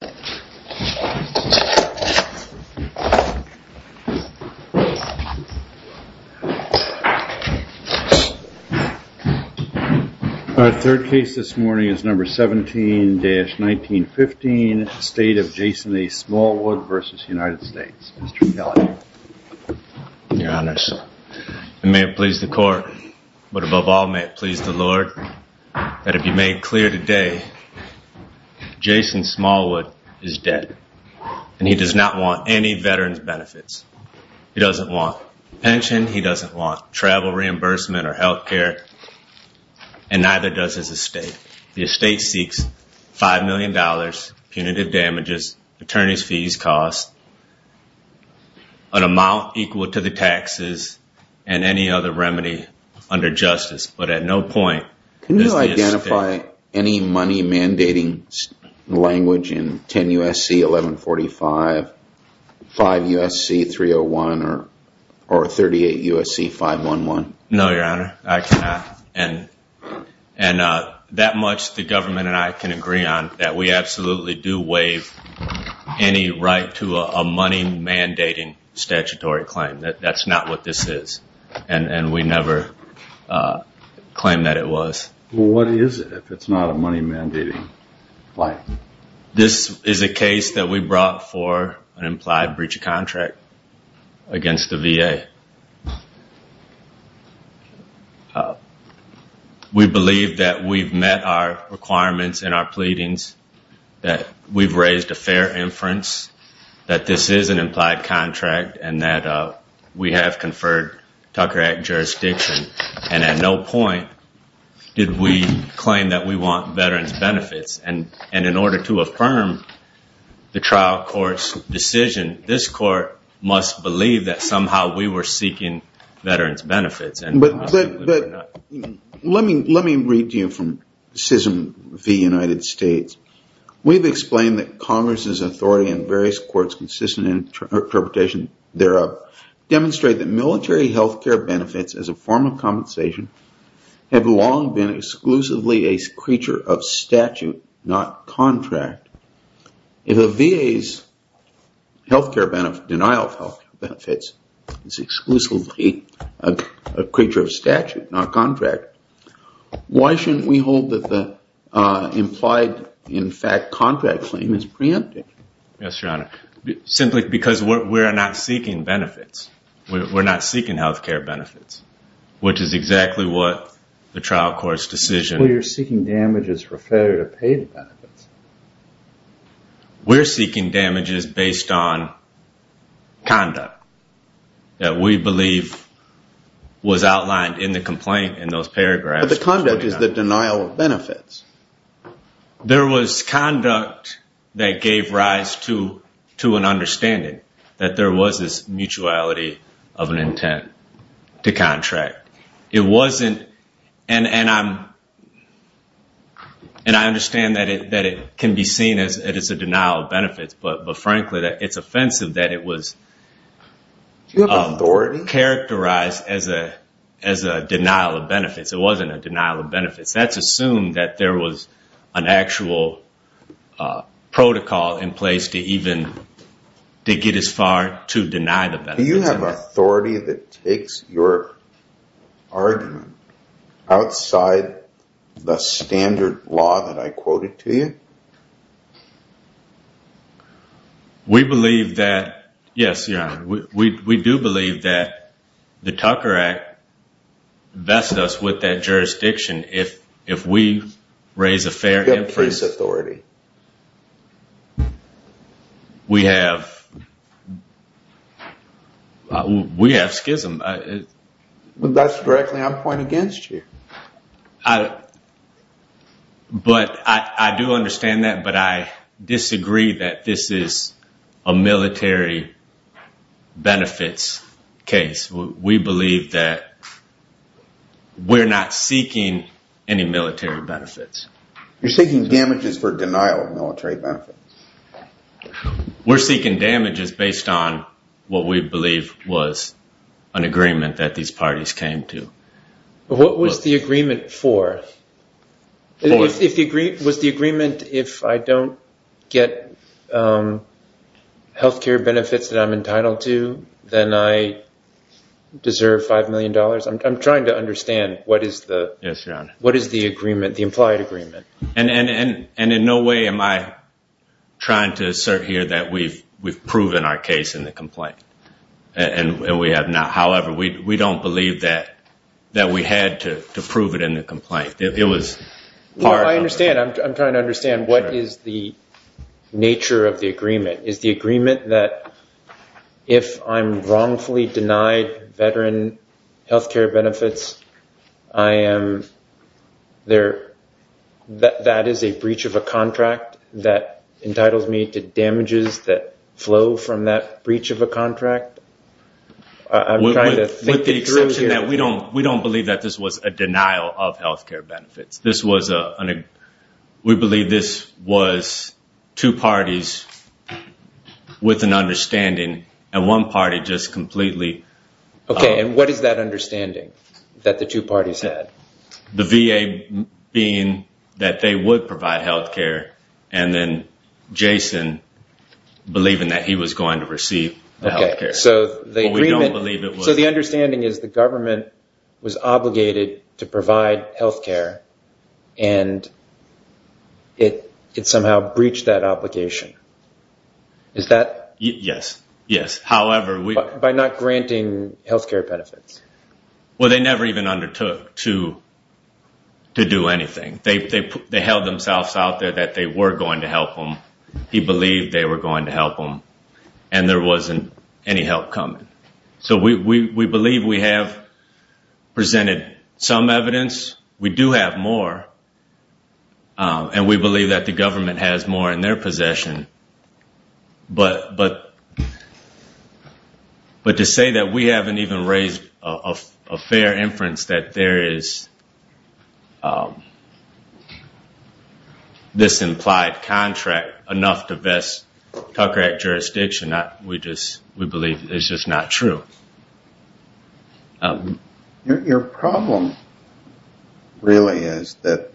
Your Honors, it may have pleased the court, but above all may it please the Lord that it be made clear today, Jason Smallwood is dead, and he does not want any veteran's benefits. He doesn't want pension, he doesn't want travel reimbursement or health care, and neither does his estate. The estate seeks $5 million, punitive damages, attorney's fees, costs, an amount equal to the taxes, and any other remedy under justice. Can you identify any money mandating language in 10 U.S.C. 1145, 5 U.S.C. 301, or 38 U.S.C. 511? No, Your Honor, I cannot. And that much the government and I can agree on, that we absolutely do waive any right to a money mandating statutory claim. That's not what this is, and we never claim that it was. Well, what is it if it's not a money mandating claim? This is a case that we brought for an implied breach of contract against the VA. We believe that we've met our requirements and our pleadings, that we've raised a fair inference, that this is an implied contract, and that we have conferred Tucker Act jurisdiction. And at no point did we claim that we want veterans' benefits. And in order to affirm the trial court's decision, this court must believe that somehow we were seeking veterans' benefits. But let me read to you from SISM v. United States. We've explained that Congress's authority and various courts' consistent interpretation thereof demonstrate that military health care benefits as a form of compensation have long been exclusively a creature of statute, not contract. If the VA's denial of health benefits is exclusively a creature of statute, not contract, why shouldn't we hold that the implied, in fact, contract claim is preempted? Yes, Your Honor, simply because we're not seeking benefits. We're not seeking health care benefits, which is exactly what the trial court's decision- Well, you're seeking damages for failure to pay the benefits. We're seeking damages based on conduct that we believe was outlined in the complaint in those paragraphs. But the conduct is the denial of benefits. There was conduct that gave rise to an understanding that there was this mutuality of an intent to contract. It wasn't, and I understand that it can be seen as a denial of benefits, but frankly, it's offensive that it was characterized as a denial of benefits. It wasn't a denial of benefits. That's assumed that there was an actual protocol in place to even get as far to deny the benefits. Do you have authority that takes your argument outside the standard law that I quoted to you? We believe that, yes, Your Honor, we do believe that the Tucker Act vests us with that jurisdiction. If we raise a fair case- Do you have police authority? We have schism. That's directly on point against you. But I do understand that, but I disagree that this is a military benefits case. We believe that we're not seeking any military benefits. You're seeking damages for denial of military benefits. We're seeking damages based on what we believe was an agreement that these parties came to. What was the agreement for? Was the agreement if I don't get health care benefits that I'm entitled to, then I deserve $5 million? I'm trying to understand what is the implied agreement. And in no way am I trying to assert here that we've proven our case in the complaint, and we have not. I believe that we had to prove it in the complaint. I understand. I'm trying to understand what is the nature of the agreement. Is the agreement that if I'm wrongfully denied veteran health care benefits, that is a breach of a contract that entitles me to damages that flow from that breach of a contract? I'm trying to think it through here. With the exception that we don't believe that this was a denial of health care benefits. We believe this was two parties with an understanding, and one party just completely... Okay, and what is that understanding that the two parties had? The VA being that they would provide health care, and then Jason believing that he was going to receive health care. We don't believe it was... So the understanding is the government was obligated to provide health care, and it somehow breached that obligation. Is that... Yes, yes. However, we... By not granting health care benefits. Well, they never even undertook to do anything. They held themselves out there that they were going to help them. He believed they were going to help them, and there wasn't any help coming. So we believe we have presented some evidence. We do have more, and we believe that the government has more in their possession. But to say that we haven't even raised a fair inference that there is this implied contract enough to vest Tucker Act jurisdiction, we believe is just not true. Your problem really is that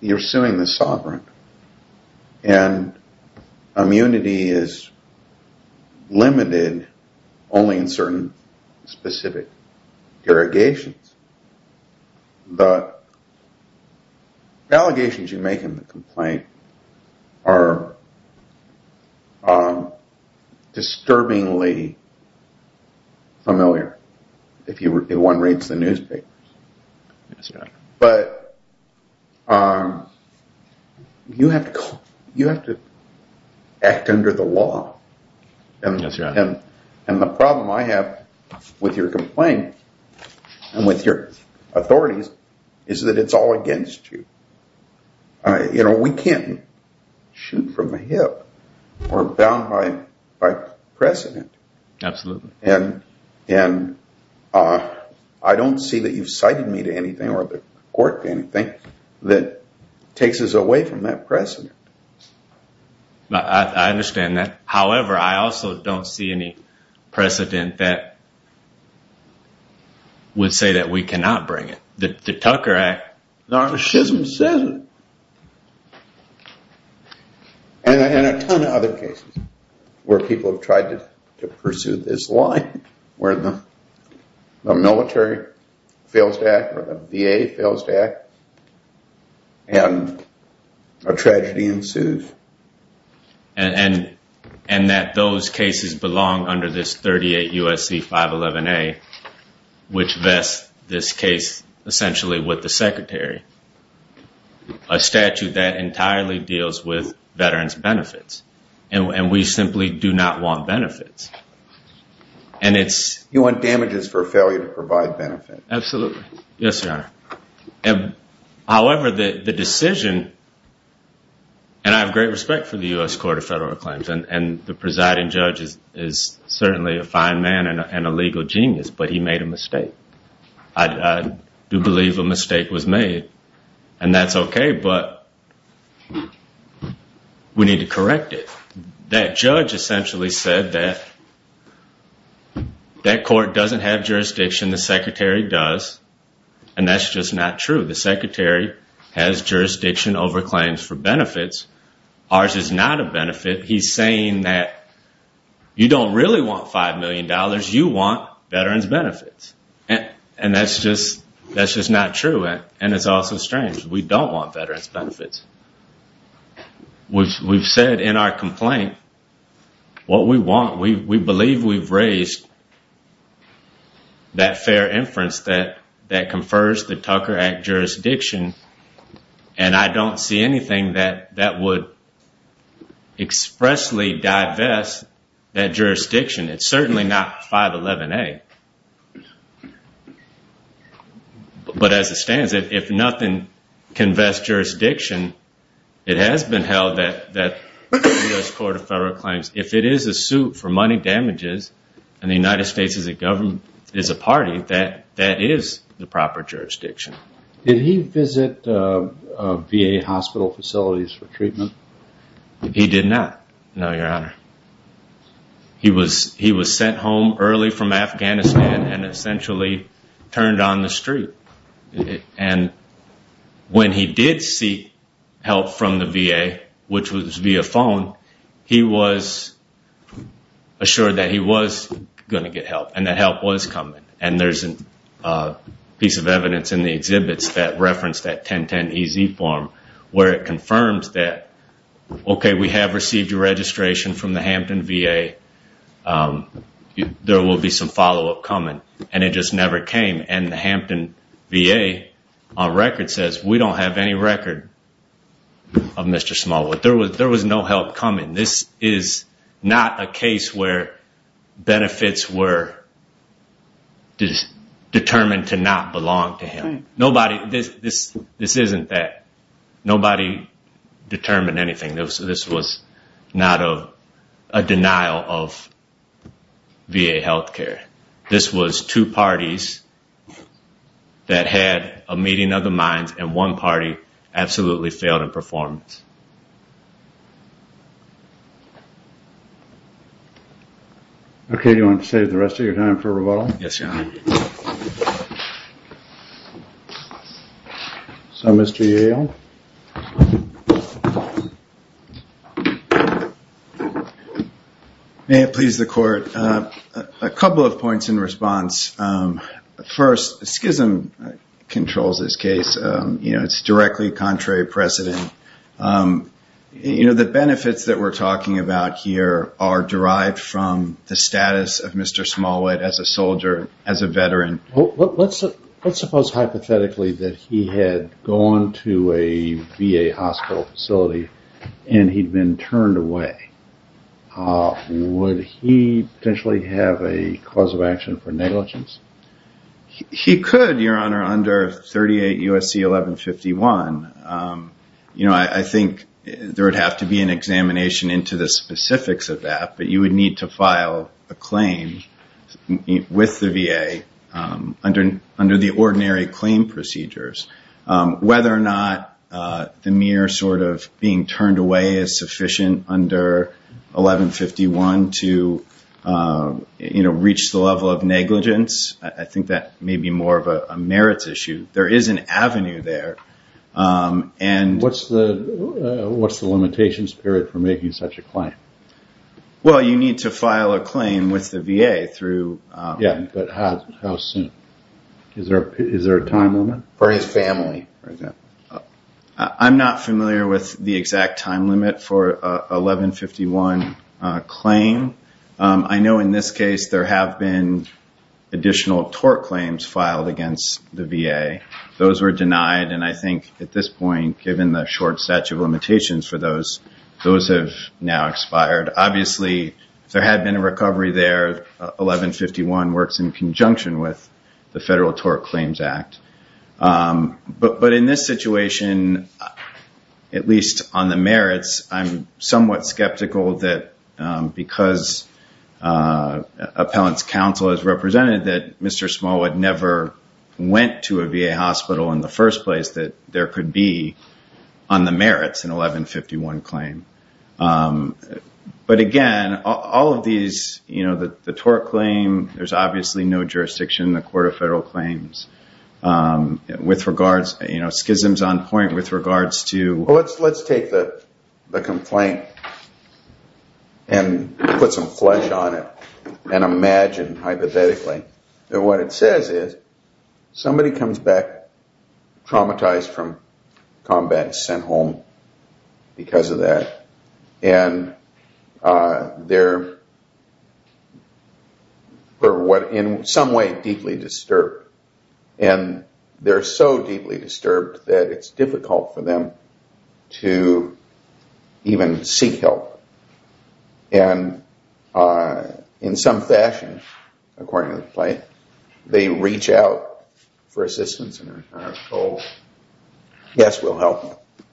you're suing the sovereign, and immunity is limited only in certain specific derogations. The allegations you make in the complaint are disturbingly familiar if one reads the newspapers. Yes, Your Honor. But you have to act under the law. Yes, Your Honor. And the problem I have with your complaint and with your authorities is that it's all against you. You know, we can't shoot from the hip or bound by precedent. Absolutely. And I don't see that you've cited me to anything or the court to anything that takes us away from that precedent. I understand that. However, I also don't see any precedent that would say that we cannot bring it. The Tucker Act. The schism says it. And a ton of other cases where people have tried to pursue this line, where the military fails to act, or the VA fails to act, and a tragedy ensues. And that those cases belong under this 38 U.S.C. 511A, which vests this case essentially with the secretary. A statute that entirely deals with veterans' benefits. And we simply do not want benefits. You want damages for failure to provide benefits. Absolutely. Yes, Your Honor. However, the decision, and I have great respect for the U.S. Court of Federal Claims, and the presiding judge is certainly a fine man and a legal genius, but he made a mistake. I do believe a mistake was made. And that's okay, but we need to correct it. That judge essentially said that that court doesn't have jurisdiction. The secretary does. And that's just not true. The secretary has jurisdiction over claims for benefits. Ours is not a benefit. He's saying that you don't really want $5 million. You want veterans' benefits. And that's just not true. And it's also strange. We don't want veterans' benefits. We've said in our complaint what we want. We believe we've raised that fair inference that confers the Tucker Act jurisdiction. And I don't see anything that would expressly divest that jurisdiction. It's certainly not 511A. But as it stands, if nothing can vest jurisdiction, it has been held that the U.S. Court of Federal Claims, if it is a suit for money damages and the United States is a party, that that is the proper jurisdiction. Did he visit VA hospital facilities for treatment? He did not, no, Your Honor. He was sent home early from Afghanistan and essentially turned on the street. And when he did seek help from the VA, which was via phone, he was assured that he was going to get help and that help was coming. And there's a piece of evidence in the exhibits that referenced that 1010EZ form where it confirms that, okay, we have received your registration from the Hampton VA. There will be some follow-up coming. And it just never came. And the Hampton VA on record says, we don't have any record of Mr. Smallwood. There was no help coming. This is not a case where benefits were determined to not belong to him. This isn't that. Nobody determined anything. This was not a denial of VA health care. This was two parties that had a meeting of the minds and one party absolutely failed in performance. Okay, do you want to save the rest of your time for rebuttal? Yes, Your Honor. Thank you. So, Mr. Yale. May it please the Court. A couple of points in response. First, SCISM controls this case. You know, it's directly contrary precedent. You know, the benefits that we're talking about here are derived from the status of Mr. Smallwood as a soldier, as a veteran. Let's suppose hypothetically that he had gone to a VA hospital facility and he'd been turned away. Would he potentially have a cause of action for negligence? He could, Your Honor, under 38 U.S.C. 1151. You know, I think there would have to be an examination into the specifics of that, but you would need to file a claim with the VA under the ordinary claim procedures. Whether or not the mere sort of being turned away is sufficient under 1151 to, you know, reach the level of negligence, I think that may be more of a merits issue. There is an avenue there. What's the limitations period for making such a claim? Well, you need to file a claim with the VA through… Yeah, but how soon? Is there a time limit? For his family, for example. I'm not familiar with the exact time limit for a 1151 claim. I know in this case there have been additional tort claims filed against the VA. Those were denied, and I think at this point, given the short statute of limitations for those, those have now expired. Obviously, there had been a recovery there. 1151 works in conjunction with the Federal Tort Claims Act. But in this situation, at least on the merits, I'm somewhat skeptical that because appellant's counsel has represented that Mr. Smollett never went to a VA hospital in the first place, that there could be, on the merits, an 1151 claim. But again, all of these, you know, the tort claim, there's obviously no jurisdiction in the Court of Federal Claims. With regards, you know, schisms on point with regards to… Well, let's take the complaint and put some flesh on it and imagine, hypothetically, that what it says is somebody comes back traumatized from combat and sent home because of that, and they're in some way deeply disturbed. And they're so deeply disturbed that it's difficult for them to even seek help. And in some fashion, according to the plaintiff, they reach out for assistance and are told, yes, we'll help you.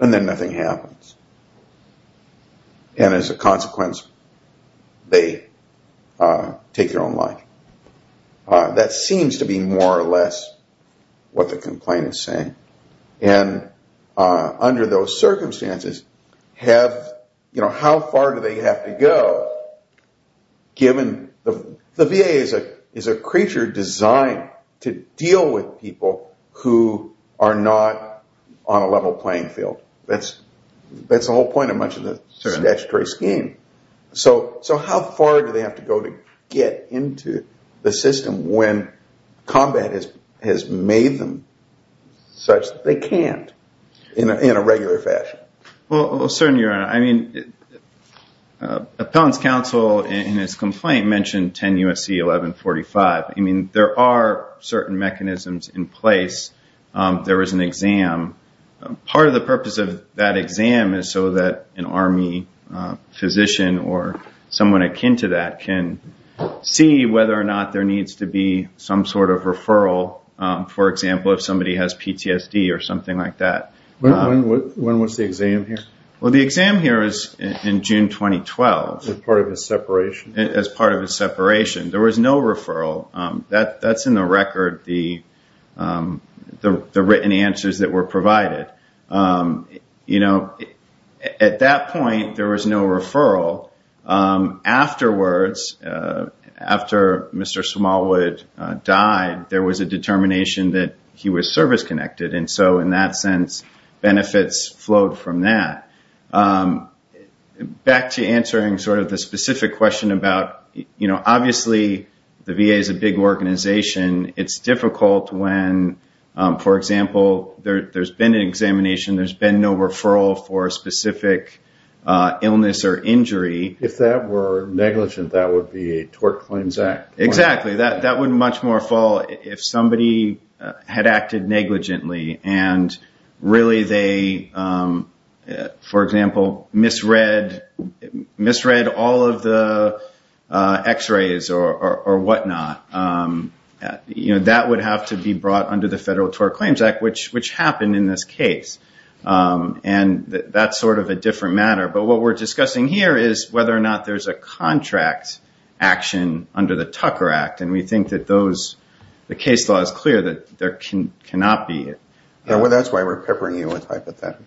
And then nothing happens. And as a consequence, they take their own life. That seems to be more or less what the complaint is saying. And under those circumstances, how far do they have to go, given the VA is a creature designed to deal with people who are not on a level playing field? That's the whole point of much of the statutory scheme. So how far do they have to go to get into the system when combat has made them such that they can't in a regular fashion? Well, certainly, Your Honor, I mean, Appellant's counsel in his complaint mentioned 10 U.S.C. 1145. I mean, there are certain mechanisms in place. There is an exam. Part of the purpose of that exam is so that an Army physician or someone akin to that can see whether or not there needs to be some sort of referral, for example, if somebody has PTSD or something like that. When was the exam here? Well, the exam here is in June 2012. As part of a separation? As part of a separation. There was no referral. That's in the record, the written answers that were provided. You know, at that point, there was no referral. Afterwards, after Mr. Smallwood died, there was a determination that he was service-connected. And so in that sense, benefits flowed from that. Back to answering sort of the specific question about, you know, obviously, the VA is a big organization. It's difficult when, for example, there's been an examination, there's been no referral for a specific illness or injury. If that were negligent, that would be a tort claims act. Exactly. That would much more fall if somebody had acted negligently. And really they, for example, misread all of the x-rays or whatnot. You know, that would have to be brought under the Federal Tort Claims Act, which happened in this case. And that's sort of a different matter. But what we're discussing here is whether or not there's a contract action under the Tucker Act. And we think that the case law is clear that there cannot be. That's why we're peppering you with hypotheticals.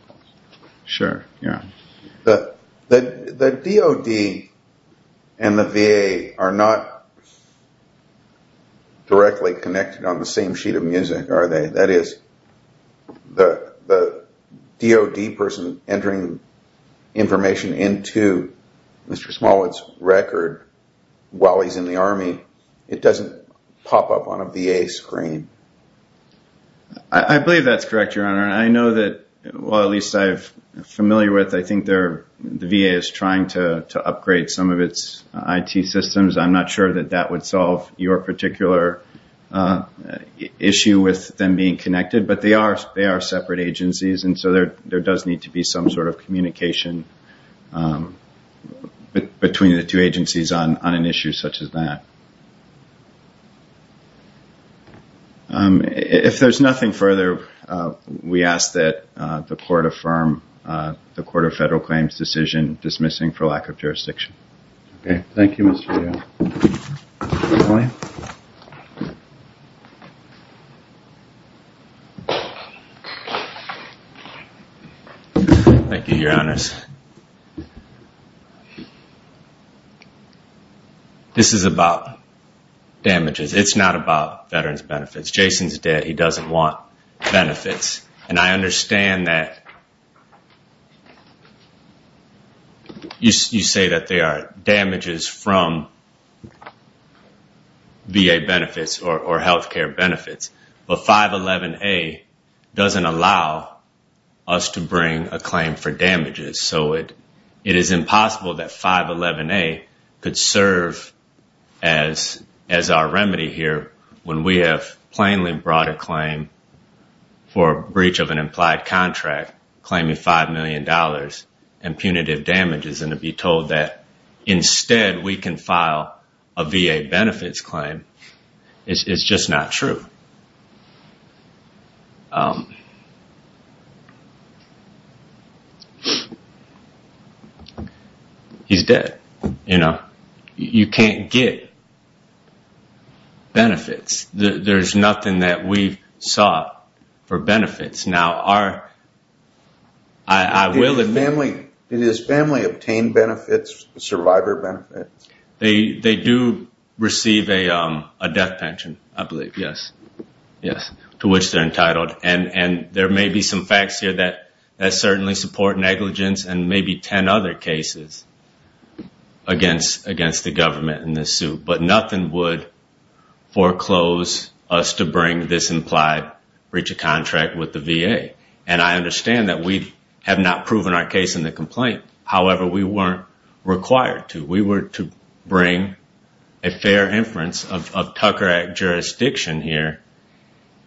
Sure, yeah. The DOD and the VA are not directly connected on the same sheet of music, are they? That is, the DOD person entering information into Mr. Smollett's record while he's in the Army, it doesn't pop up on a VA screen. I believe that's correct, Your Honor. I know that, well, at least I'm familiar with, I think the VA is trying to upgrade some of its IT systems. I'm not sure that that would solve your particular issue with them being connected. But they are separate agencies. And so there does need to be some sort of communication between the two agencies on an issue such as that. If there's nothing further, we ask that the Court affirm the Court of Federal Claims' decision dismissing for lack of jurisdiction. Okay. Thank you, Mr. Daly. Thank you, Your Honors. This is about damages. It's not about veterans' benefits. Jason's dead. He doesn't want benefits. And I understand that you say that there are damages from VA benefits or health care benefits. But 511A doesn't allow us to bring a claim for damages. So it is impossible that 511A could serve as our remedy here when we have plainly brought a claim for breach of an implied contract, claiming $5 million in punitive damages, and to be told that instead we can file a VA benefits claim is just not true. He's dead. You know? You can't get benefits. There's nothing that we've sought for benefits. Now, I will admit... Did his family obtain benefits, survivor benefits? They do receive a death pension, I believe, yes. To which they're entitled. And there may be some facts here that certainly support negligence and maybe 10 other cases against the government in this suit. But nothing would foreclose us to bring this implied breach of contract with the VA. And I understand that we have not proven our case in the complaint. However, we weren't required to. We were to bring a fair inference of Tucker Act jurisdiction here.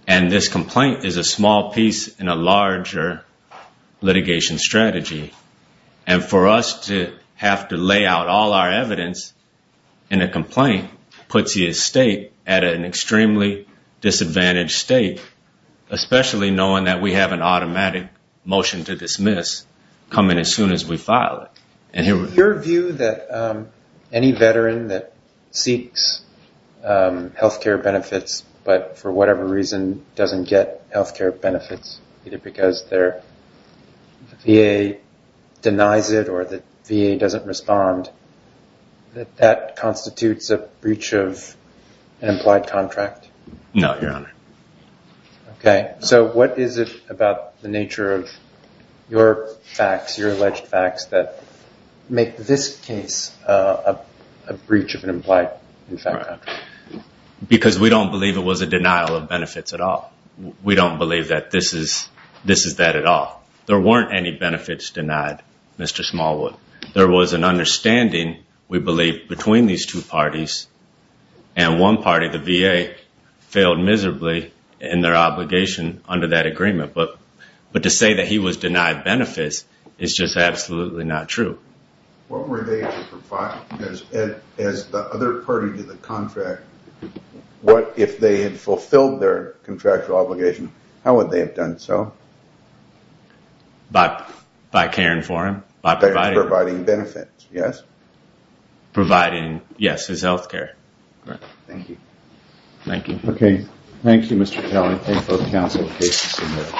And this complaint is a small piece in a larger litigation strategy. And for us to have to lay out all our evidence in a complaint puts the estate at an extremely disadvantaged state, especially knowing that we have an automatic motion to dismiss coming as soon as we file it. Your view that any veteran that seeks health care benefits but for whatever reason doesn't get health care benefits, either because their VA denies it or the VA doesn't respond, that that constitutes a breach of an implied contract? No, Your Honor. Okay. So what is it about the nature of your facts, your alleged facts, that make this case a breach of an implied contract? Because we don't believe it was a denial of benefits at all. We don't believe that this is that at all. There weren't any benefits denied, Mr. Smallwood. There was an understanding, we believe, between these two parties. And one party, the VA, failed miserably in their obligation under that agreement. But to say that he was denied benefits is just absolutely not true. What were they to provide? Because as the other party to the contract, what if they had fulfilled their contractual obligation? How would they have done so? By caring for him. By providing benefits, yes? Providing, yes, his health care. Thank you. Thank you. Okay. Thank you, Mr. Kelly. Thank both counsel and cases submitted.